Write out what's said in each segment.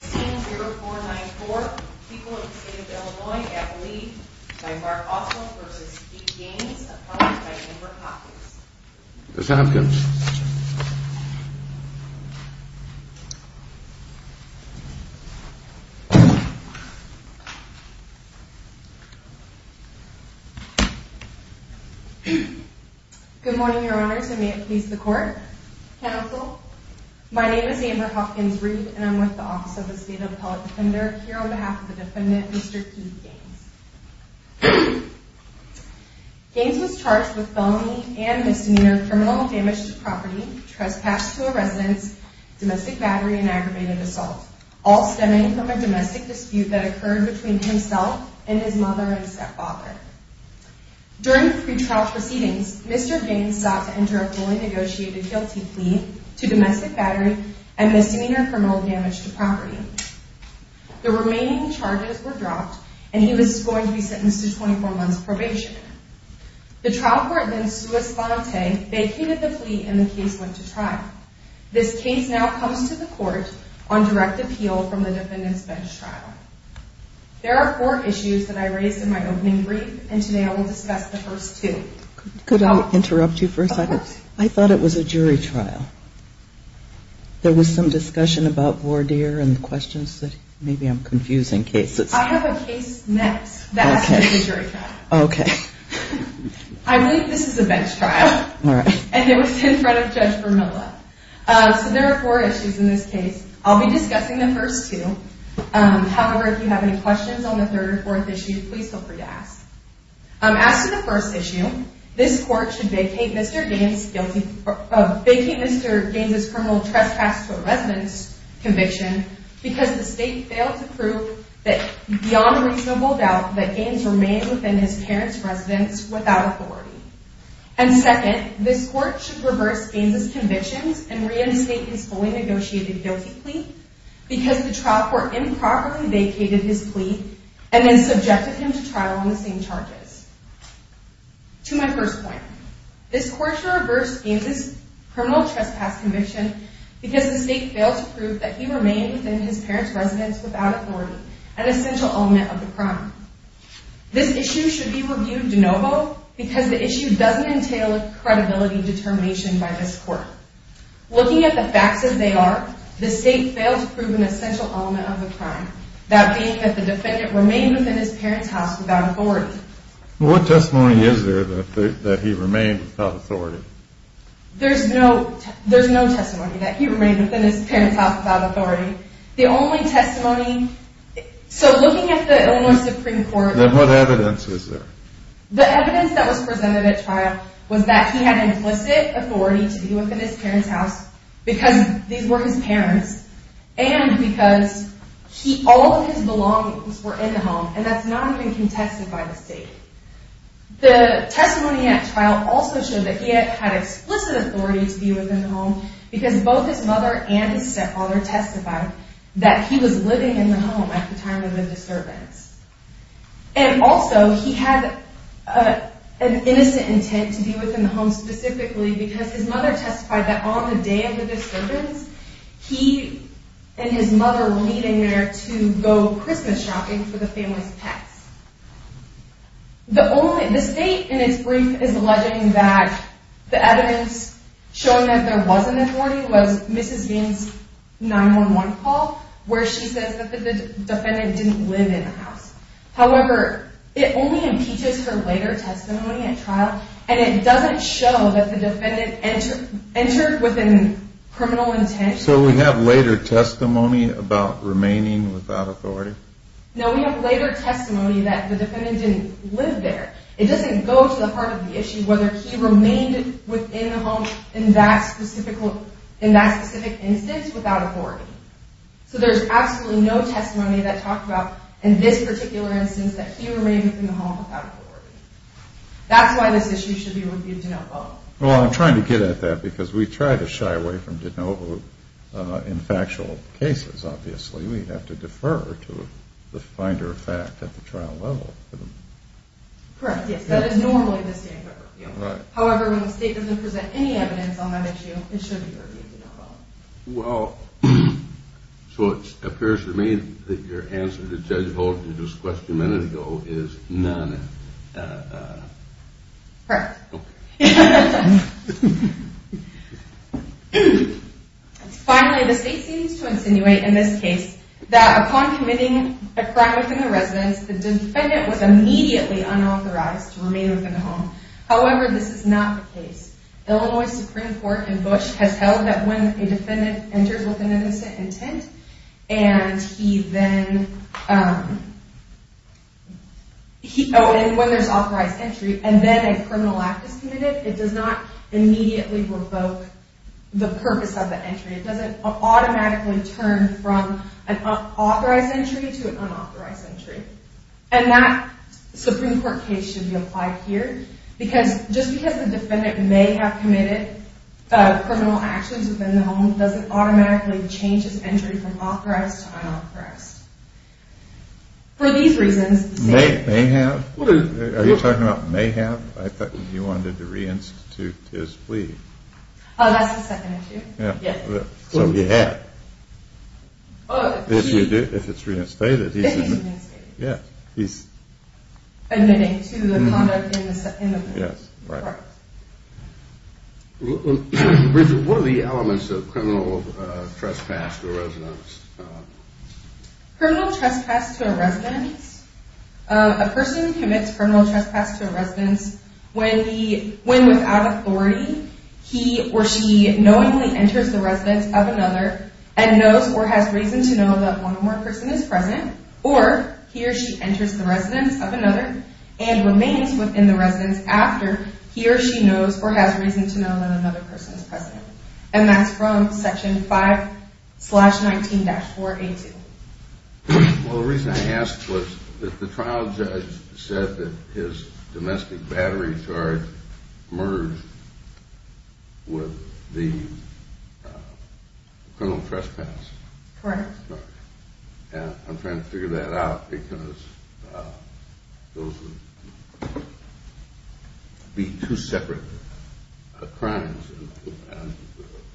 15-0494, people of the state of Illinois at the lead by Mark Oswald v. G. Gaines, accompanied by Amber Hopkins. Ms. Hopkins. Good morning, your honors, and may it please the court, counsel. My name is Amber Hopkins-Reed, and I'm with the Office of the State Appellate Defender, here on behalf of the defendant, Mr. Keith Gaines. Gaines was charged with felony and misdemeanor criminal damage to property, trespass to a residence, domestic battery, and aggravated assault, all stemming from a domestic dispute that occurred between himself and his mother and stepfather. During the pretrial proceedings, Mr. Gaines sought to enter a fully negotiated guilty plea to domestic battery and misdemeanor criminal damage to property. The remaining charges were dropped, and he was going to be sentenced to 24 months probation. The trial court then sua sponte, vacated the plea, and the case went to trial. This case now comes to the court on direct appeal from the defendant's bench trial. There are four issues that I raised in my opening brief, and today I will discuss the first two. Could I interrupt you for a second? I thought it was a jury trial. There was some discussion about voir dire and questions that maybe I'm confusing cases. I have a case next that's a jury trial. Okay. I believe this is a bench trial. All right. And it was in front of Judge Vermilla. So there are four issues in this case. I'll be discussing the first two. However, if you have any questions on the third or fourth issue, please feel free to ask. As to the first issue, this court should vacate Mr. Gaines' criminal trespass to a residence conviction because the state failed to prove beyond a reasonable doubt that Gaines remained within his parents' residence without authority. And second, this court should reverse Gaines' convictions and reinstate his fully negotiated guilty plea because the trial court improperly vacated his plea and then subjected him to trial on the same charges. To my first point, this court should reverse Gaines' criminal trespass conviction because the state failed to prove that he remained within his parents' residence without authority, an essential element of the crime. This issue should be reviewed de novo because the issue doesn't entail a credibility determination by this court. Looking at the facts as they are, the state failed to prove an essential element of the crime, that being that the defendant remained within his parents' house without authority. What testimony is there that he remained without authority? There's no testimony that he remained within his parents' house without authority. The only testimony – so looking at the Illinois Supreme Court – Then what evidence is there? The evidence that was presented at trial was that he had implicit authority to be within his parents' house because these were his parents and because all of his belongings were in the home, and that's not even contested by the state. The testimony at trial also showed that he had explicit authority to be within the home because both his mother and his stepfather testified that he was living in the home at the time of the disturbance. And also, he had an innocent intent to be within the home specifically because his mother testified that on the day of the disturbance, he and his mother were meeting there to go Christmas shopping for the family's pets. The state, in its brief, is alleging that the evidence showing that there was an authority was Mrs. Gaines' 911 call where she says that the defendant didn't live in the house. However, it only impeaches her later testimony at trial, and it doesn't show that the defendant entered with a criminal intent. So we have later testimony about remaining without authority? No, we have later testimony that the defendant didn't live there. It doesn't go to the heart of the issue whether he remained within the home in that specific instance without authority. So there's absolutely no testimony that talked about in this particular instance that he remained within the home without authority. That's why this issue should be reviewed de novo. Well, I'm trying to get at that because we try to shy away from de novo in factual cases, obviously. We have to defer to the finder of fact at the trial level. Correct, yes, that is normally the standard review. However, when the state doesn't present any evidence on that issue, it should be reviewed de novo. Well, so it appears to me that your answer to Judge Hogan's question a minute ago is none. Correct. Okay. Finally, the state seems to insinuate in this case that upon committing a crime within the residence, the defendant was immediately unauthorized to remain within the home. However, this is not the case. Illinois Supreme Court in Bush has held that when a defendant enters with an innocent intent, and when there's authorized entry, and then a criminal act is committed, it does not immediately revoke the purpose of the entry. It doesn't automatically turn from an authorized entry to an unauthorized entry. And that Supreme Court case should be applied here because just because the defendant may have committed criminal actions within the home doesn't automatically change his entry from authorized to unauthorized. For these reasons, the state… May have? Are you talking about may have? I thought you wanted to reinstitute his plea. Oh, that's the second issue. So he had. If it's reinstated, he's… If he's reinstated. Yes, he's… Admitting to the conduct in the home. Yes, right. Bridget, what are the elements of criminal trespass to a residence? Criminal trespass to a residence. A person commits criminal trespass to a residence when without authority he or she knowingly enters the residence of another and knows or has reason to know that one or more person is present, or he or she enters the residence of another and remains within the residence after he or she knows or has reason to know that another person is present. And that's from Section 5-19-4A2. Well, the reason I asked was that the trial judge said that his domestic battery charge merged with the criminal trespass. Correct. And I'm trying to figure that out because those would be two separate crimes. And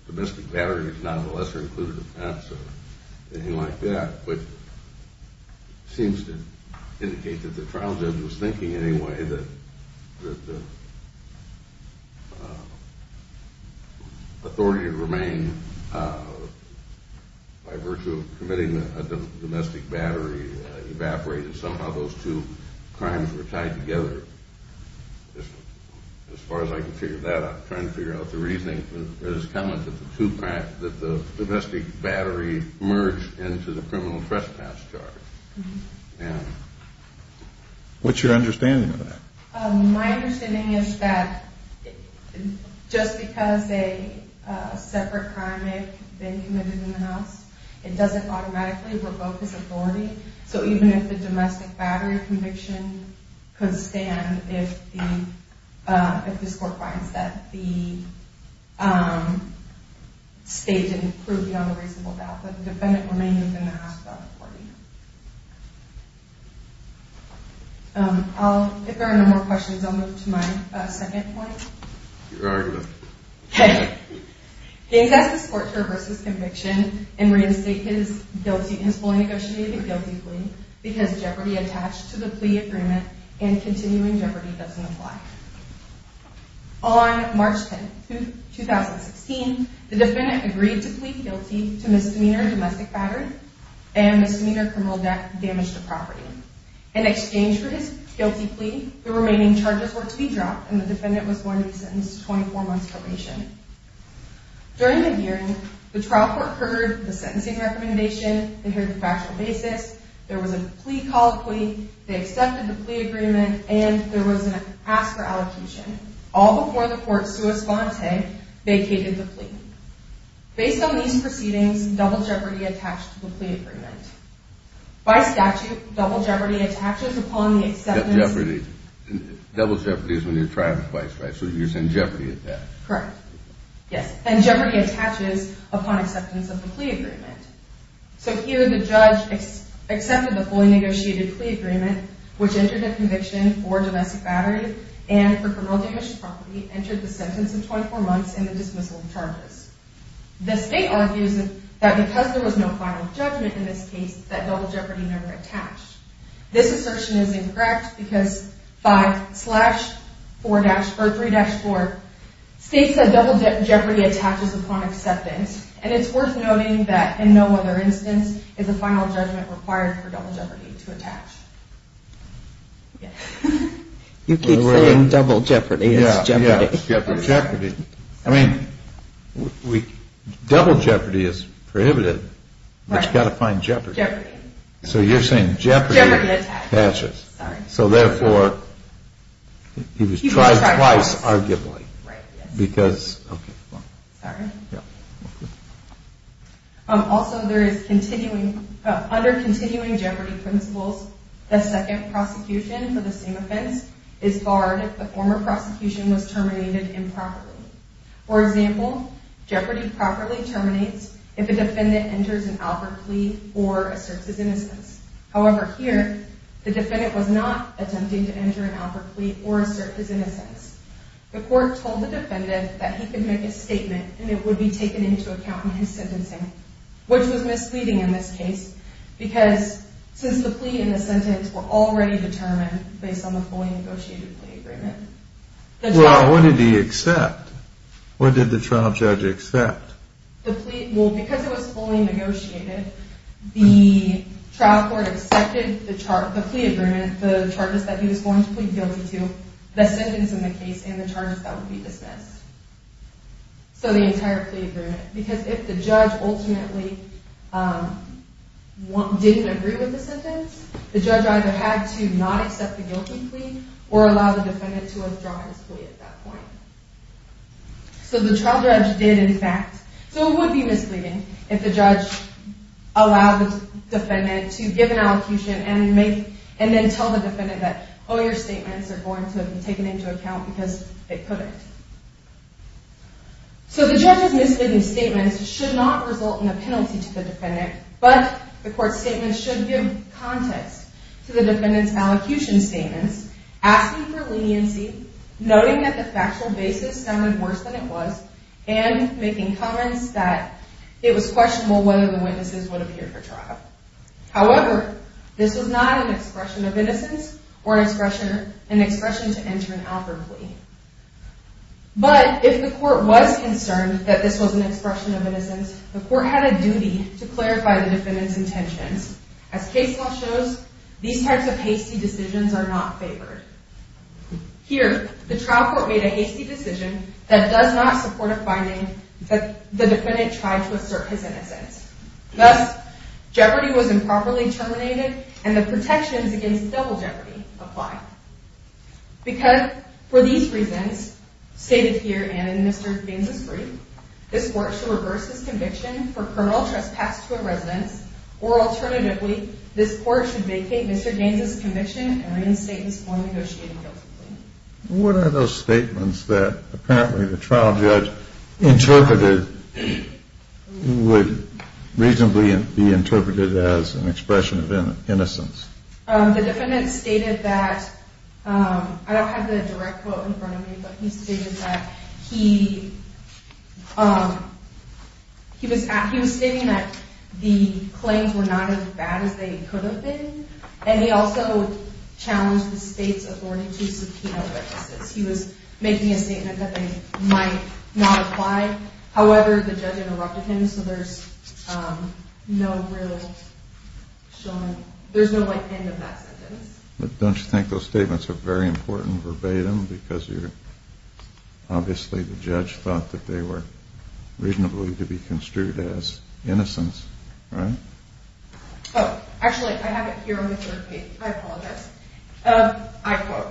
domestic battery is not a lesser included offense or anything like that, which seems to indicate that the trial judge was thinking anyway that authority to remain by virtue of committing a domestic battery evaporated. Somehow those two crimes were tied together. As far as I can figure that out. I'm trying to figure out the reasoning for this comment that the domestic battery merged into the criminal trespass charge. What's your understanding of that? My understanding is that just because a separate crime may have been committed in the house, it doesn't automatically revoke his authority. So even if the domestic battery conviction could stand if the court finds that the state didn't prove beyond a reasonable doubt that the defendant remained in the house without reporting. If there are no more questions, I'll move to my second point. Your argument. Okay. Gaines asked the court to reverse his conviction and reinstate his fully negotiated guilty plea because jeopardy attached to the plea agreement and continuing jeopardy doesn't apply. On March 10, 2016, the defendant agreed to plead guilty to misdemeanor domestic battery and misdemeanor criminal damage to property. In exchange for his guilty plea, the remaining charges were to be dropped and the defendant was going to be sentenced to 24 months probation. During the hearing, the trial court heard the sentencing recommendation and heard the factual basis. There was a plea called plea. They accepted the plea agreement and there was an ask for allocation. All before the court's response, they vacated the plea. Based on these proceedings, double jeopardy attached to the plea agreement. By statute, double jeopardy attaches upon the acceptance… Jeopardy. Double jeopardy is when you're trying twice, right? So you're saying jeopardy attached. Correct. Yes. And jeopardy attaches upon acceptance of the plea agreement. So here the judge accepted the fully negotiated plea agreement, which entered a conviction for domestic battery and for criminal damage to property, entered the sentence of 24 months and the dismissal of charges. The state argues that because there was no final judgment in this case, that double jeopardy never attached. This assertion is incorrect because 5-3-4 states that double jeopardy attaches upon acceptance. And it's worth noting that in no other instance is a final judgment required for double jeopardy to attach. You keep saying double jeopardy. It's jeopardy. It's jeopardy. I mean, double jeopardy is prohibited. Right. But you've got to find jeopardy. Jeopardy. So you're saying jeopardy attaches. Jeopardy attaches. Sorry. So therefore, he was tried twice, arguably. Right, yes. Because… Sorry. Yeah. Go ahead. Also, there is continuing… For example, jeopardy properly terminates if a defendant enters an alpert plea or asserts his innocence. However, here, the defendant was not attempting to enter an alpert plea or assert his innocence. The court told the defendant that he could make a statement and it would be taken into account in his sentencing, which was misleading in this case because since the plea and the sentence were already determined based on the fully negotiated plea agreement… Well, what did he accept? What did the trial judge accept? Well, because it was fully negotiated, the trial court accepted the plea agreement, the charges that he was going to plead guilty to, the sentence in the case, and the charges that would be dismissed. So the entire plea agreement. Because if the judge ultimately didn't agree with the sentence, the judge either had to not accept the guilty plea or allow the defendant to withdraw his plea at that point. So the trial judge did, in fact… So it would be misleading if the judge allowed the defendant to give an allocution and then tell the defendant that, oh, your statements are going to be taken into account because they put it. So the judge's misleading statements should not result in a penalty to the defendant, but the court's statements should give context to the defendant's allocution statements, asking for leniency, noting that the factual basis sounded worse than it was, and making comments that it was questionable whether the witnesses would appear for trial. However, this was not an expression of innocence or an expression to enter an alpert plea. But if the court was concerned that this was an expression of innocence, the court had a duty to clarify the defendant's intentions. As case law shows, these types of hasty decisions are not favored. Here, the trial court made a hasty decision that does not support a finding that the defendant tried to assert his innocence. Thus, jeopardy was improperly terminated, and the protections against double jeopardy apply. For these reasons, stated here and in Mr. Gaines's brief, this court should reverse its conviction for criminal trespass to a residence, or alternatively, this court should vacate Mr. Gaines's conviction and reinstate his form of negotiating guilty plea. What are those statements that apparently the trial judge interpreted would reasonably be interpreted as an expression of innocence? The defendant stated that – I don't have the direct quote in front of me, but he stated that he was stating that the claims were not as bad as they could have been, and he also challenged the state's authority to subpoena witnesses. He was making a statement that they might not apply. However, the judge interrupted him, so there's no real – there's no end of that sentence. Don't you think those statements are very important verbatim, because obviously the judge thought that they were reasonably to be construed as innocence, right? Oh, actually, I have it here on the third page. I apologize. I quote,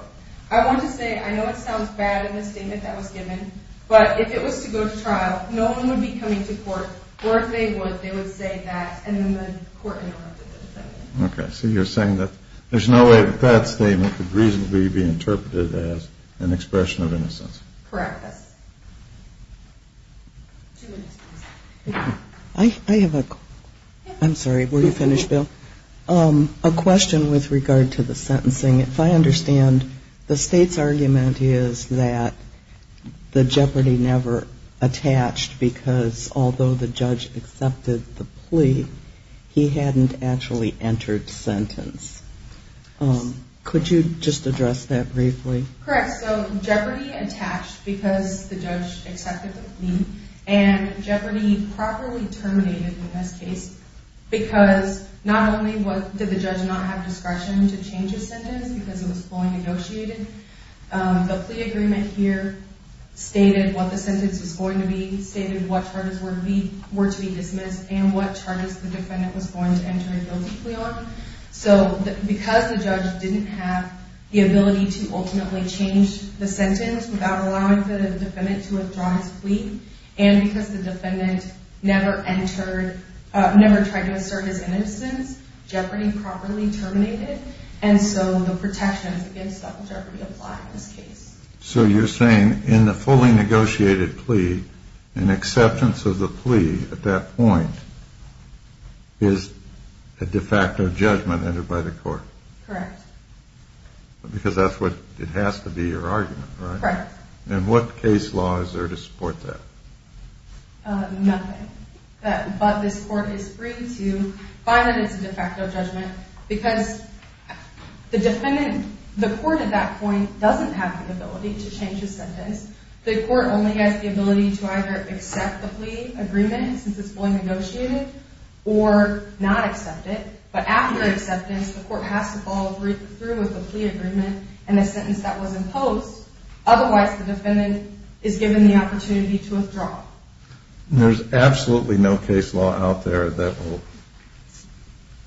I want to say I know it sounds bad in the statement that was given, but if it was to go to trial, no one would be coming to court, or if they would, they would say that, and then the court interrupted the defendant. Okay. So you're saying that there's no way that that statement could reasonably be interpreted as an expression of innocence. Correct. Two minutes, please. I have a – I'm sorry, were you finished, Bill? A question with regard to the sentencing. If I understand, the state's argument is that the jeopardy never attached because although the judge accepted the plea, he hadn't actually entered sentence. Could you just address that briefly? Correct. So jeopardy attached because the judge accepted the plea, and jeopardy properly terminated in this case because not only did the judge not have discretion to change his sentence because it was fully negotiated, the plea agreement here stated what the sentence was going to be, stated what charges were to be dismissed, and what charges the defendant was going to enter a guilty plea on. So because the judge didn't have the ability to ultimately change the sentence without allowing the defendant to withdraw his plea, and because the defendant never entered – never tried to assert his innocence, jeopardy properly terminated, and so the protections against that jeopardy apply in this case. So you're saying in the fully negotiated plea, an acceptance of the plea at that point is a de facto judgment entered by the court? Correct. Because that's what – it has to be your argument, right? Correct. And what case law is there to support that? Nothing. But this court is free to find that it's a de facto judgment because the defendant – the court at that point doesn't have the ability to change his sentence. The court only has the ability to either accept the plea agreement since it's fully negotiated or not accept it. But after acceptance, the court has to follow through with the plea agreement and the sentence that was imposed. Otherwise, the defendant is given the opportunity to withdraw. There's absolutely no case law out there that will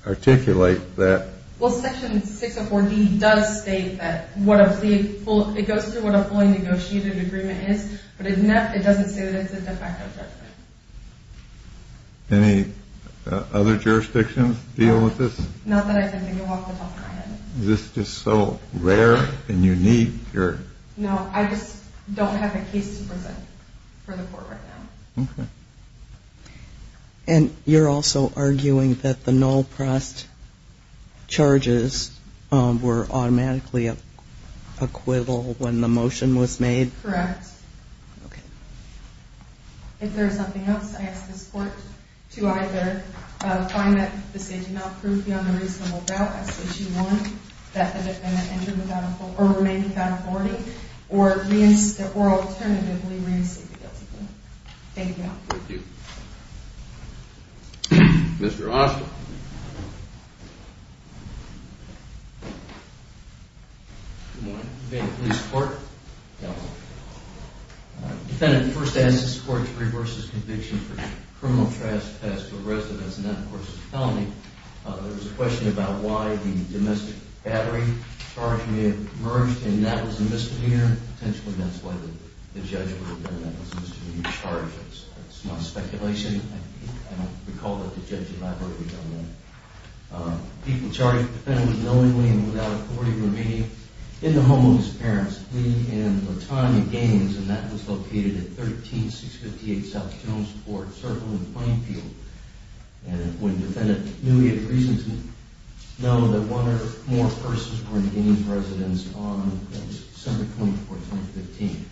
articulate that. Well, Section 604D does state that what a plea – it goes through what a fully negotiated agreement is, but it doesn't say that it's a de facto judgment. Any other jurisdictions deal with this? Not that I can think of off the top of my head. Is this just so rare and unique? No, I just don't have a case to present for the court right now. Okay. And you're also arguing that the null pressed charges were automatically acquittal when the motion was made? Correct. Okay. If there's something else, I ask this court to either find that the state did not prove beyond a reasonable doubt, as Section 1, that the defendant entered without – or remained without authority, or alternatively reinstated guilty. Thank you. Thank you. Mr. Osler. Good morning. Defendant, please report. Defendant, first ask this court to reverse this conviction for criminal trespass to a residence, and that, of course, is a felony. There was a question about why the domestic battery charge may have emerged, and that was a misdemeanor. Potentially, that's why the judge would have done that. It was a misdemeanor charge. It's not speculation. I don't recall that the judge had deliberately done that. People charged the defendant with knowingly and without authority remaining in the home of his parents, Lee and Latanya Gaines, and that was located at 13658 South Jones Court, circled with a playing field. And when the defendant knew he had reason to know that one or more persons were in Gaines' residence on December 24, 2015,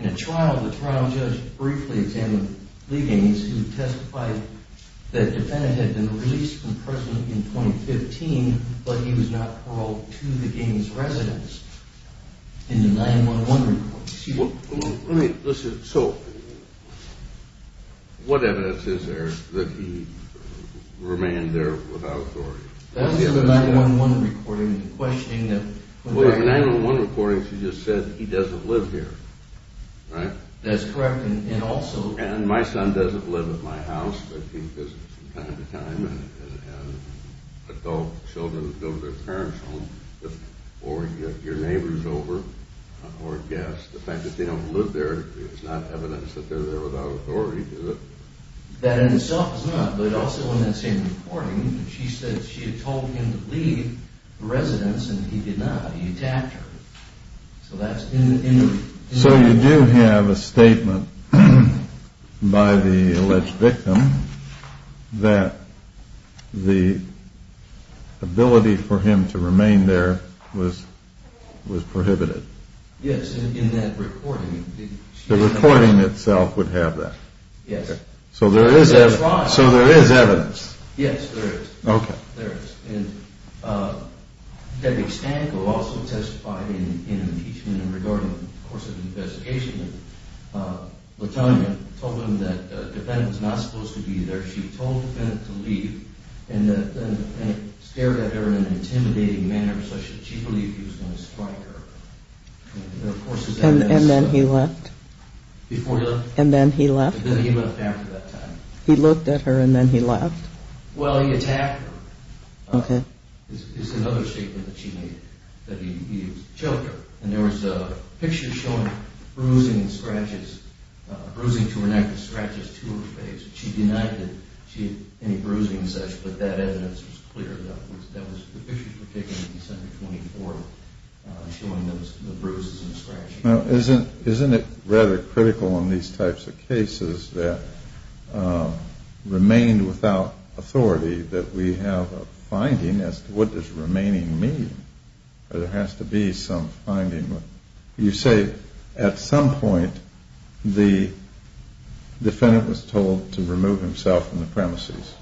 in a trial, the trial judge briefly examined Lee Gaines, who testified that the defendant had been released from prison in 2015, but he was not paroled to the Gaines' residence in the 9-1-1 report. Excuse me. Let me – listen. So, what evidence is there that he remained there without authority? That was in the 9-1-1 recording, the questioning that – Well, in the 9-1-1 recording, she just said he doesn't live here, right? That's correct, and also – And my son doesn't live at my house, but he visits from time to time, and adult children go to their parents' home, or your neighbor's over, or guests. The fact that they don't live there is not evidence that they're there without authority, is it? That in itself is not, but also in that same recording, she said she had told him to leave the residence, and he did not. He attacked her. So that's in the – So you do have a statement by the alleged victim that the ability for him to remain there was prohibited. Yes, in that recording. The recording itself would have that. Yes. So there is evidence. Yes, there is. Okay. And Debbie Stanko also testified in impeachment regarding the course of the investigation, and Latonya told him that the defendant was not supposed to be there. She told the defendant to leave, and stared at her in an intimidating manner such that she believed he was going to strike her. And then he left? Before he left. And then he left? And then he left after that time. He looked at her, and then he left? Well, he attacked her. Okay. It's another statement that she made, that he choked her. And there was a picture showing bruising and scratches, bruising to her neck and scratches to her face. She denied that she had any bruising and such, but that evidence was clear. That was – the pictures were taken on December 24th showing those bruises and scratches. Now, isn't it rather critical in these types of cases that remain without authority that we have a finding as to what does remaining mean? There has to be some finding. You say at some point the defendant was told to remove himself from the premises?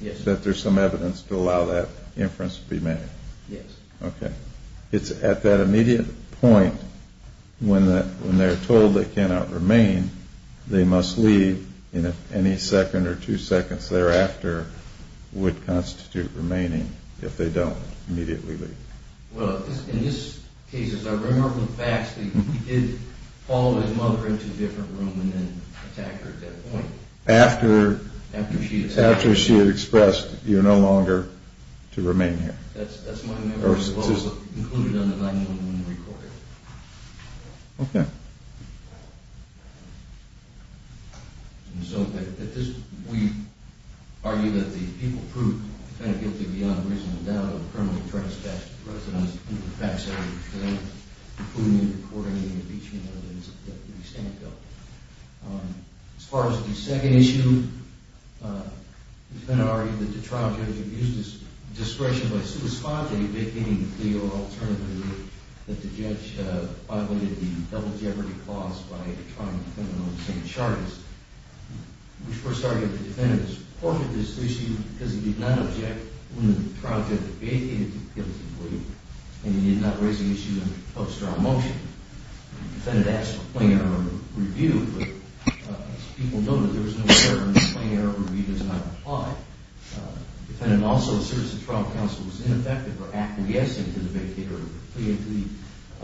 Yes. That there's some evidence to allow that inference to be made? Yes. Okay. It's at that immediate point when they're told they cannot remain, they must leave. Any second or two seconds thereafter would constitute remaining if they don't immediately leave. Well, in this case, as I remember from facts, he did follow his mother into a different room and then attacked her at that point. After she had expressed, you're no longer to remain here. That's my memory as well. Very specific. Included in the 9-1-1 recording. Okay. And so we argue that the people proved the defendant guilty beyond reasonable doubt of criminal trespass against residents in the facts area, including in the recording and the impeachment evidence that the defendant dealt with. As far as the second issue, the defendant argued that the trial judge abused his discretion by sui sponte vacating the plea or alternatively that the judge violated the double jeopardy clause by trying to defend him on the same charges. We first argue that the defendant supported this issue because he did not object when the trial judge vacated the plea and he did not raise the issue in a post-trial motion. The defendant asked for plain error review, but as people noted, there was no error and the plain error review does not apply. The defendant also asserts the trial counsel was ineffective for acquiescing to the vacated plea and to the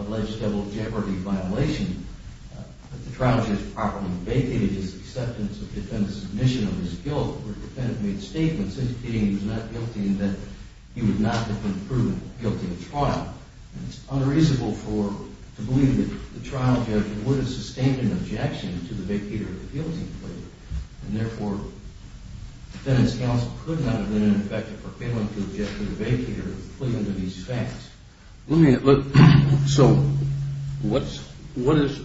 alleged double jeopardy violation. The trial judge properly vacated his acceptance of the defendant's submission of his guilt where the defendant made statements indicating he was not guilty and that he would not have been proven guilty of trial. It is unreasonable to believe that the trial judge would have sustained an objection to the vacated appeasement plea and therefore the defendant's counsel could not have been ineffective for failing to object to the vacated plea under these facts. So what is,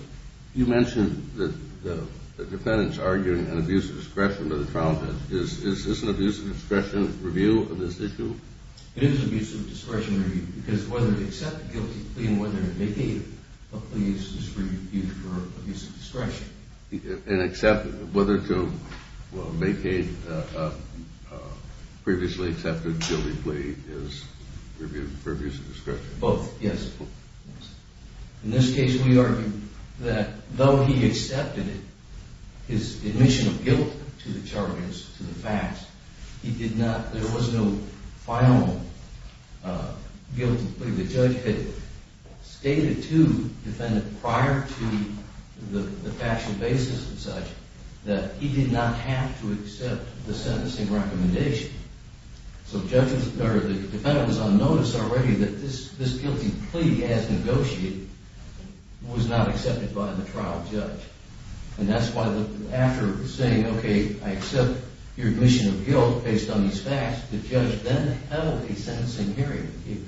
you mentioned that the defendant is arguing an abuse of discretion by the trial judge. Is this an abuse of discretion review of this issue? It is an abuse of discretion review because whether to accept a guilty plea and whether to vacate a plea is an abuse of discretion. And whether to vacate a previously accepted guilty plea is an abuse of discretion? Both, yes. In this case we argue that though he accepted his admission of guilt to the charges, to the facts, he did not, there was no final guilty plea. The judge had stated to the defendant prior to the factual basis and such that he did not have to accept the sentencing recommendation. So the defendant was on notice already that this guilty plea as negotiated was not accepted by the trial judge. And that's why after saying, okay, I accept your admission of guilt based on these facts, the judge then held a sentencing hearing. He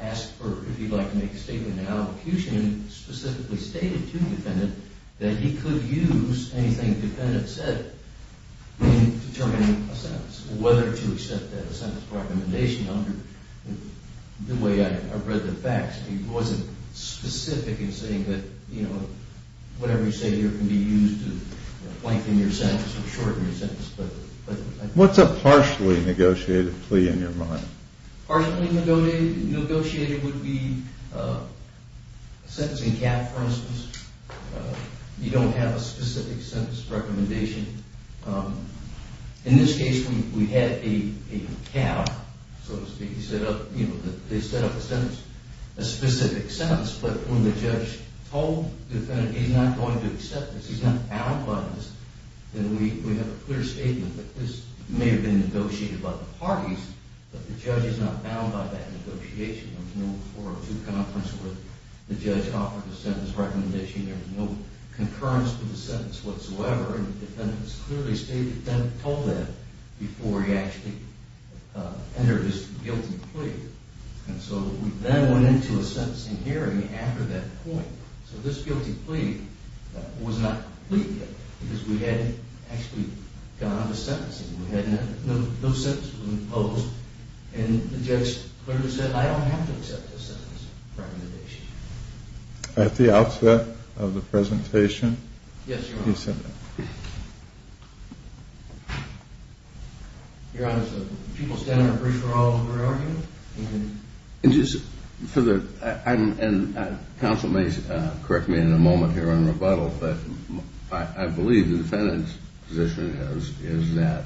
asked for, if he'd like to make a statement in an allocution and specifically stated to the defendant that he could use anything the defendant said in determining a sentence, whether to accept that sentence recommendation under the way I read the facts. He wasn't specific in saying that, you know, whatever you say here can be used to lengthen your sentence or shorten your sentence. What's a partially negotiated plea in your mind? Partially negotiated would be a sentencing cap, for instance. You don't have a specific sentence recommendation. In this case we had a cap, so to speak. They set up a sentence, a specific sentence, but when the judge told the defendant he's not going to accept this, he's not bound by this, then we have a clear statement that this may have been negotiated by the parties, but the judge is not bound by that negotiation. There was no 402 conference where the judge offered a sentence recommendation. There was no concurrence to the sentence whatsoever, and the defendant clearly stated that and told that before he actually entered his guilty plea. And so we then went into a sentencing hearing after that point, so this guilty plea was not complete yet because we had actually gone on to sentencing. We had no sentences imposed, and the judge clearly said I don't have to accept this sentence recommendation. At the outset of the presentation, he said that. Your Honor, the people standing are briefed for all the priority. Counsel may correct me in a moment here on rebuttal, but I believe the defendant's position is that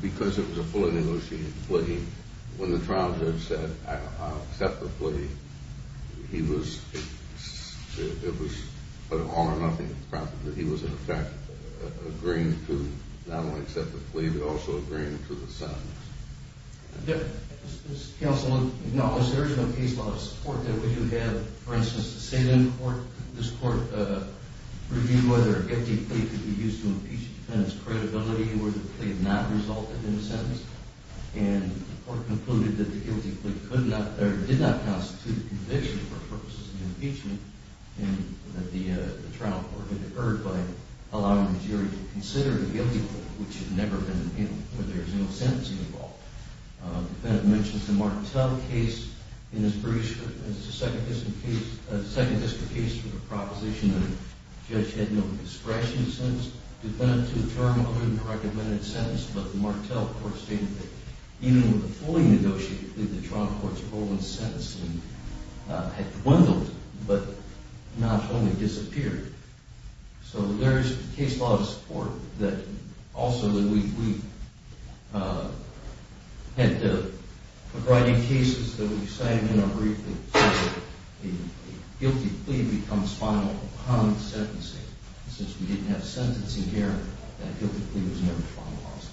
because it was a fully negotiated plea, when the trial judge said I'll accept the plea, it was an all-or-nothing process. He was, in effect, agreeing to not only accept the plea but also agreeing to the sentence. Does counsel acknowledge there is no case law support that we do have? For instance, the Salem court, this court reviewed whether a guilty plea could be used to impeach the defendant's credibility where the plea did not result in a sentence, and the court concluded that the guilty plea did not constitute a conviction for purposes of impeachment, and that the trial court had occurred by allowing the jury to consider the guilty plea, which had never been, where there is no sentencing involved. The defendant mentions the Martell case in his second district case with a proposition that a judge had no discretion in the sentence. The defendant, to the charm of it, recommended a sentence, but the Martell court stated that even with a fully negotiated plea, the trial court's role in sentencing had dwindled but not only disappeared. So there is case law support that also that we had a variety of cases that we've signed in our briefings where a guilty plea becomes final upon sentencing. Since we didn't have sentencing here, that guilty plea was never finalized.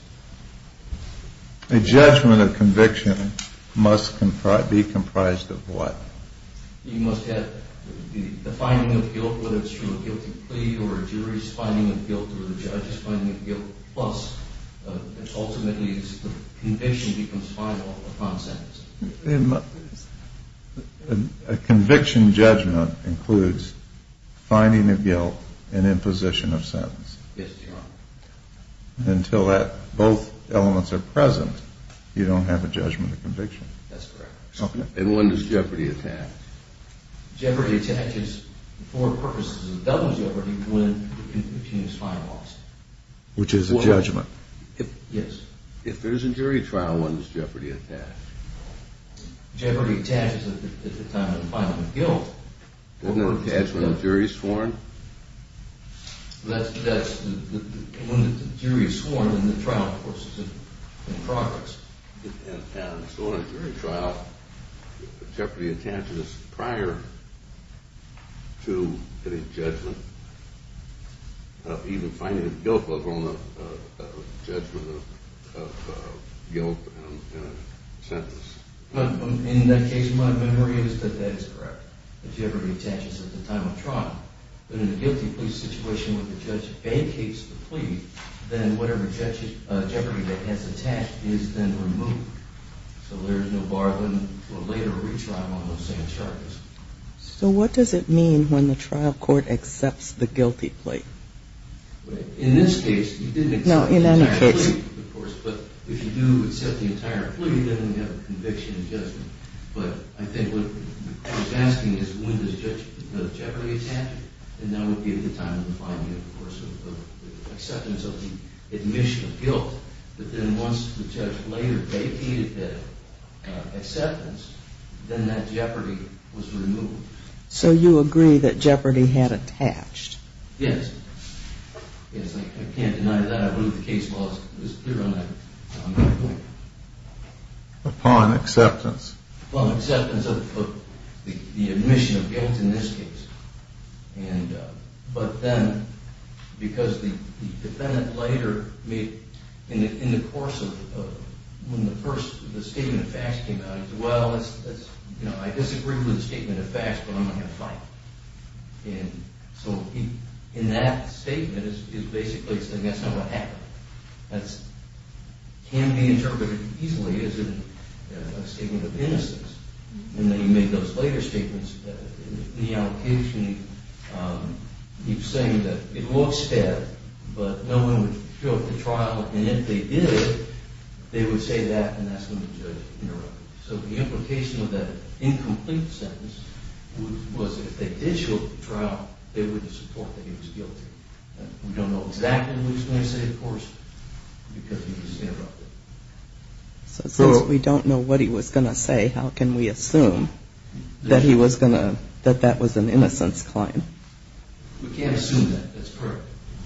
A judgment of conviction must be comprised of what? You must have the finding of guilt, whether it's from a guilty plea or a jury's finding of guilt or the judge's finding of guilt, plus ultimately the conviction becomes final upon sentencing. A conviction judgment includes finding of guilt and imposition of sentence. Yes, Your Honor. Until that, both elements are present, you don't have a judgment of conviction. That's correct. And when does jeopardy attach? Jeopardy attaches for purposes of double jeopardy when the conviction is finalized. Which is a judgment. Yes. If there's a jury trial, when does jeopardy attach? Jeopardy attaches at the time of the finding of guilt. Doesn't it attach when the jury is sworn? That's when the jury is sworn and the trial, of course, is in progress. And so in a jury trial, jeopardy attaches prior to any judgment of even finding of guilt, let alone a judgment of guilt in a sentence. In that case, my memory is that that is correct. Jeopardy attaches at the time of trial. But in a guilty plea situation where the judge vacates the plea, then whatever jeopardy that has attached is then removed. So there is no bargain for later retrial on those same charges. So what does it mean when the trial court accepts the guilty plea? In this case, you didn't accept the entire plea, of course, but if you do accept the entire plea, then you have a conviction in judgment. But I think what I'm asking is when does jeopardy attach? And that would be at the time of the finding, of course, of the acceptance of the admission of guilt. But then once the judge later vacated that acceptance, then that jeopardy was removed. So you agree that jeopardy had attached? Yes. Yes, I can't deny that. I believe the case law is clear on that point. Upon acceptance? Upon acceptance of the admission of guilt in this case. But then because the defendant later made, in the course of, when the first statement of facts came out, he said, well, I disagree with the statement of facts, but I'm not going to fight. And so in that statement, he's basically saying that's not going to happen. That can be interpreted easily as a statement of innocence. And then he made those later statements. In the allocation, he was saying that it looks bad, but no one would fill up the trial, and if they did, they would say that, and that's when the judge interrupted. So the implication of that incomplete sentence was if they did show up for trial, they would support that he was guilty. We don't know exactly what he was going to say, of course, because he just interrupted. So since we don't know what he was going to say, how can we assume that he was going to, that that was an innocence claim? We can't assume that. That's correct.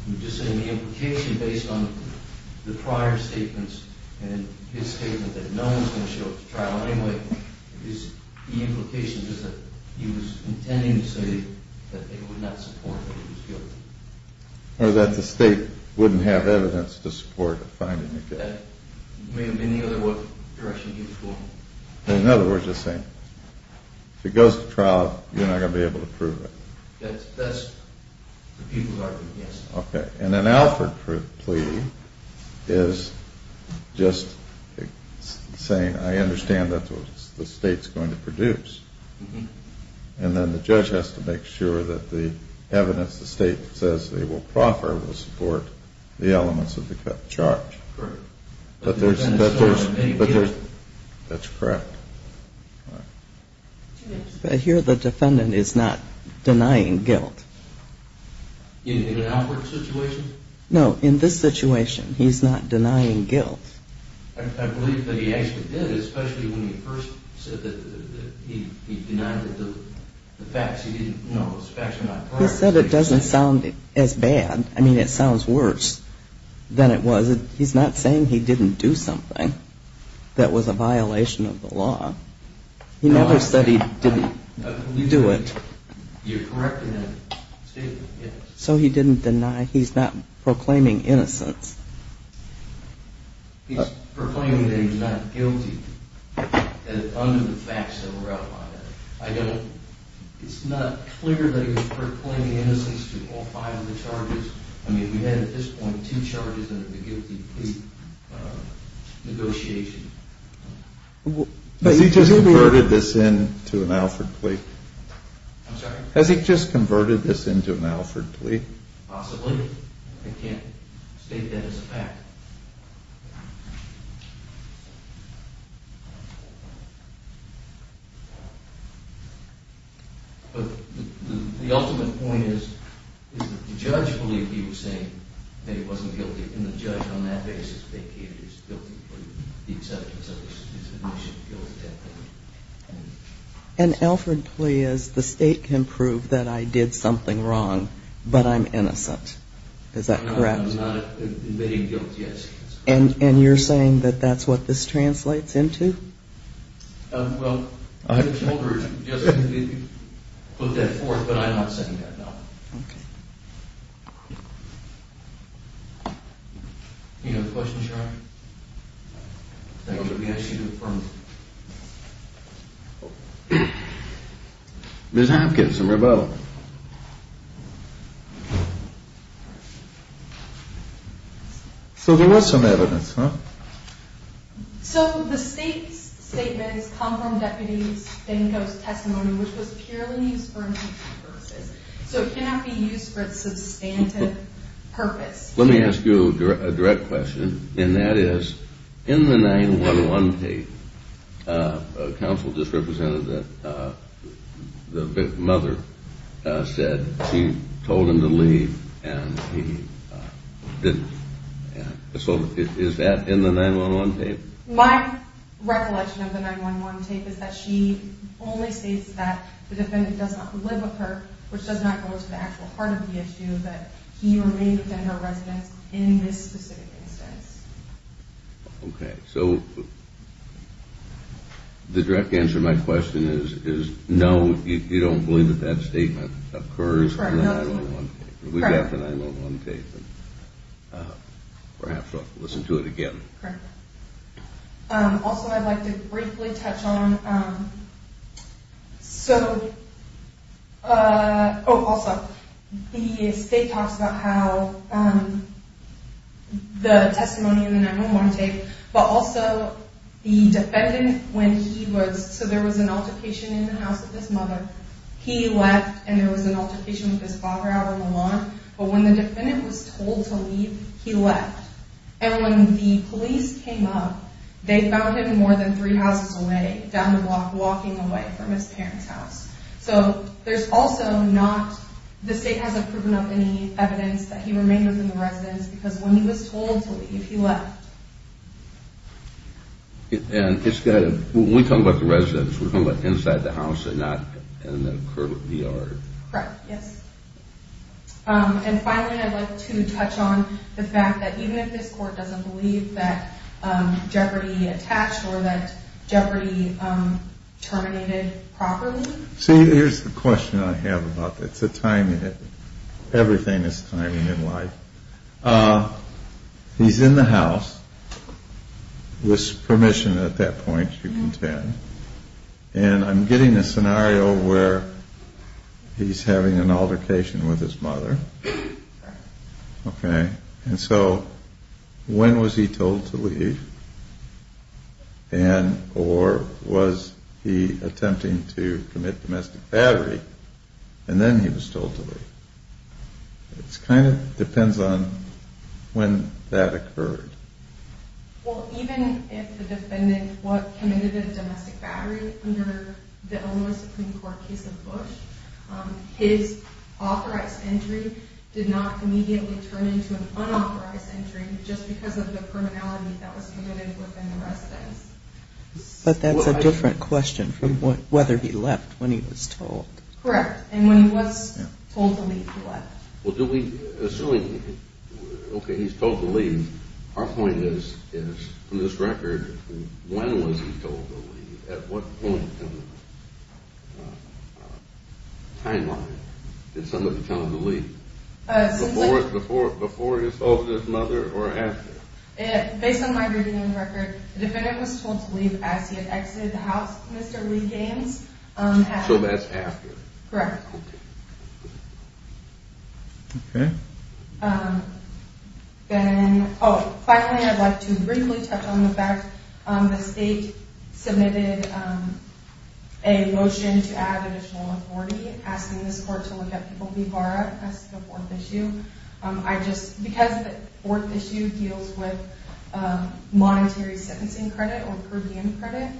We're just saying the implication based on the prior statements and his statement that no one was going to show up for trial anyway, the implication is that he was intending to say that they would not support that he was guilty. Or that the state wouldn't have evidence to support the finding of guilt. That may have been the other direction he was going. In other words, you're saying if it goes to trial, you're not going to be able to prove it. That's the people's argument, yes. Okay. And an Alford plea is just saying I understand that's what the state's going to produce. And then the judge has to make sure that the evidence the state says they will proffer will support the elements of the charge. Correct. But there's, that's correct. But here the defendant is not denying guilt. In an Alford situation? No, in this situation he's not denying guilt. I believe that he actually did, especially when he first said that he denied the facts. He didn't know those facts were not correct. He said it doesn't sound as bad. I mean, it sounds worse than it was. He's not saying he didn't do something that was a violation of the law. He never said he didn't do it. You're correcting that statement, yes. So he didn't deny, he's not proclaiming innocence. He's proclaiming that he's not guilty under the facts that were outlined. I don't, it's not clear that he's proclaiming innocence to all five of the charges. I mean, we had at this point two charges under the guilty plea negotiation. Has he just converted this into an Alford plea? I'm sorry? Has he just converted this into an Alford plea? Possibly. I can't state that as a fact. But the ultimate point is that the judge believed he was saying that he wasn't guilty. And the judge on that basis vacated his guilty plea. An Alford plea is the state can prove that I did something wrong, but I'm innocent. Is that correct? I'm not invading guilt, yes. And you're saying that that's what this translates into? Well, the holder just put that forth, but I'm not saying that, no. Okay. Any other questions, Your Honor? Thank you. Ms. Hopkins and Rebella. So there was some evidence, huh? So the state's statement is conformed deputies, then goes testimony, which was purely used for impeachment purposes. So it cannot be used for its substantive purpose. Let me ask you a direct question. And that is, in the 9-1-1 tape, counsel just represented that the mother said she told him to leave and he didn't. So is that in the 9-1-1 tape? My recollection of the 9-1-1 tape is that she only states that the defendant does not live with her, which does not go to the actual heart of the issue, that he remains a general resident in this specific instance. Okay. So the direct answer to my question is no, you don't believe that that statement occurs in the 9-1-1 tape. Correct. We got the 9-1-1 tape. Perhaps I'll have to listen to it again. Correct. Also, I'd like to briefly touch on... So... Oh, also, the state talks about how the testimony in the 9-1-1 tape, but also the defendant, when he was... So there was an altercation in the house with his mother. He left, and there was an altercation with his father out on the lawn. But when the defendant was told to leave, he left. And when the police came up, they found him more than three houses away, down the block, walking away from his parents' house. So there's also not... The state hasn't proven up any evidence that he remained within the residence, because when he was told to leave, he left. And it's got to... When we're talking about the residence, we're talking about inside the house and not in the yard. Correct, yes. And finally, I'd like to touch on the fact that even if this court doesn't believe that Jeopardy! attached or that Jeopardy! terminated properly... See, here's the question I have about this. It's a timing. Everything is timing in life. He's in the house, with permission at that point, you can tell. And I'm getting a scenario where he's having an altercation with his mother. Correct. Okay. And so, when was he told to leave? And, or, was he attempting to commit domestic battery, and then he was told to leave? It kind of depends on when that occurred. Well, even if the defendant committed a domestic battery under the Illinois Supreme Court case of Bush, his authorized entry did not immediately turn into an unauthorized entry just because of the criminality that was committed within the residence. But that's a different question from whether he left when he was told. Correct, and when he was told to leave, he left. Well, do we, assuming, okay, he's told to leave, our point is, from this record, when was he told to leave? At what point in the timeline did somebody tell him to leave? Before he assaulted his mother or after? Based on my reading of the record, the defendant was told to leave as he had exited the house with Mr. Lee Gaines. So that's after. Correct. Okay. Then, oh, finally, I'd like to briefly touch on the fact that the state submitted a motion to add additional authority, asking this court to look at People v. Barra as the fourth issue. I just, because the fourth issue deals with monetary sentencing credit or per diem credit,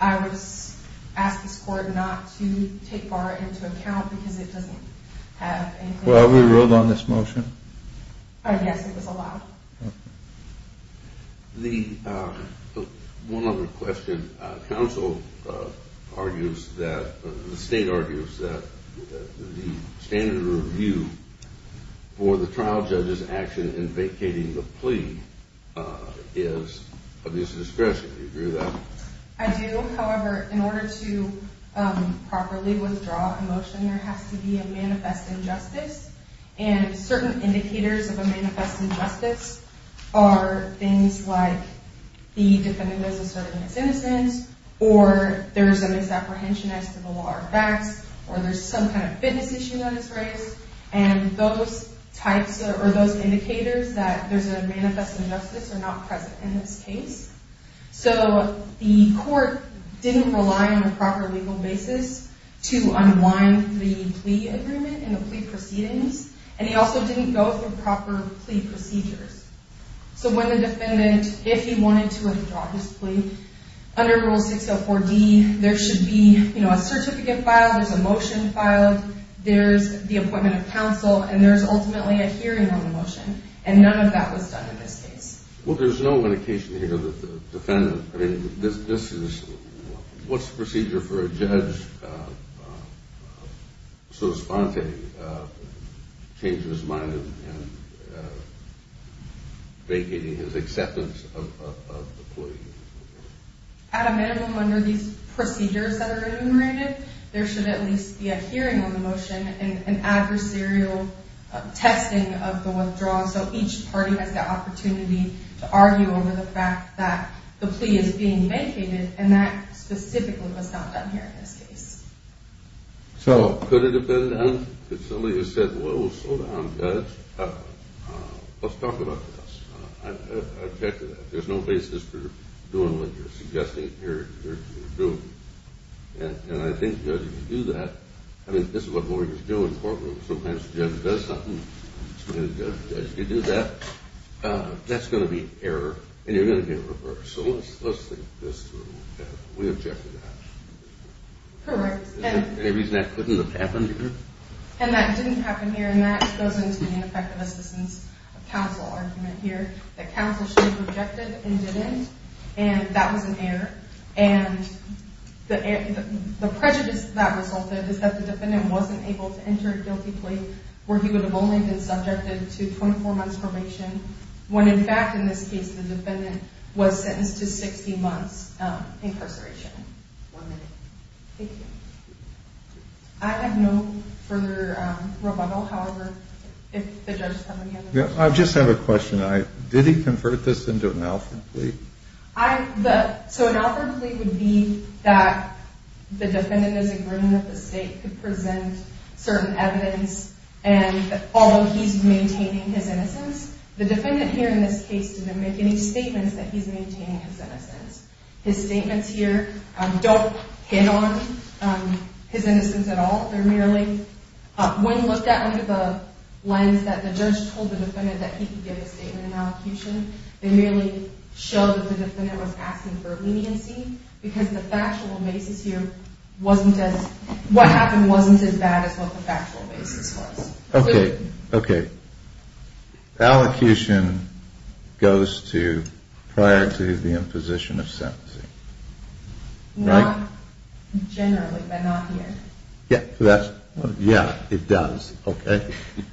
I would ask this court not to take Barra into account because it doesn't have any clarity. Well, we ruled on this motion. Yes, it was allowed. One other question. The state argues that the standard of review for the trial judge's action in vacating the plea is abuse of discretion. Do you agree with that? I do. However, in order to properly withdraw a motion, there has to be a manifest injustice, and certain indicators of a manifest injustice are things like the defendant was asserting his innocence, or there's a misapprehension as to the law or facts, or there's some kind of fitness issue that is raised, and those types or those indicators that there's a manifest injustice are not present in this case. So the court didn't rely on a proper legal basis to unwind the plea agreement and the plea proceedings, and he also didn't go through proper plea procedures. So when the defendant, if he wanted to withdraw his plea, under Rule 604D, there should be, you know, a certificate filed, there's a motion filed, there's the appointment of counsel, and there's ultimately a hearing on the motion, and none of that was done in this case. Well, there's no indication here that the defendant, I mean, this is, what's the procedure for a judge, so to speak, changing his mind and vacating his acceptance of the plea? At a minimum, under these procedures that are enumerated, there should at least be a hearing on the motion and adversarial testing of the withdrawal, so each party has the opportunity to argue over the fact that the plea is being vacated, and that specifically was not done here in this case. So could it have been done? Could somebody have said, well, slow down, judge, let's talk about this. I object to that. There's no basis for doing what you're suggesting you're doing. And I think, judge, if you do that, I mean, this is what lawyers do in courtrooms. Sometimes the judge does something, and as you do that, that's going to be an error, and you're going to get a reverse. So let's think this through. We object to that. Correct. Is there any reason that couldn't have happened here? And that didn't happen here, and that goes into the ineffective assistance of counsel argument here, that counsel should have objected and didn't, and that was an error. And the prejudice that resulted is that the defendant wasn't able to enter a guilty plea where he would have only been subjected to 24 months probation, when, in fact, in this case, the defendant was sentenced to 60 months incarceration. One minute. Thank you. I have no further rebuttal, however, if the judge has any other questions. I just have a question. Did he convert this into an author plea? So an author plea would be that the defendant is in agreement that the state could present certain evidence, and although he's maintaining his innocence, the defendant here in this case didn't make any statements that he's maintaining his innocence. His statements here don't pin on his innocence at all. When looked at under the lens that the judge told the defendant that he could give a statement in allocution, they merely showed that the defendant was asking for leniency because the factual basis here wasn't as – what happened wasn't as bad as what the factual basis was. Okay. Okay. Allocution goes to prior to the imposition of sentencing. Not generally, but not here. Yeah, that's – yeah, it does. Okay.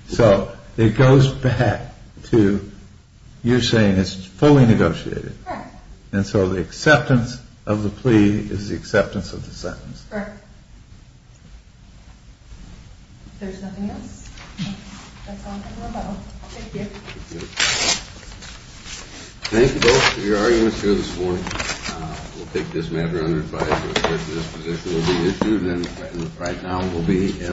So it goes back to you saying it's fully negotiated. Correct. And so the acceptance of the plea is the acceptance of the sentence. Correct. If there's nothing else, that's all I have to rebuttal. Thank you. Thank you. Thank you both for your arguments here this morning. We'll take this matter under advise that this position will be issued, and right now we'll be in –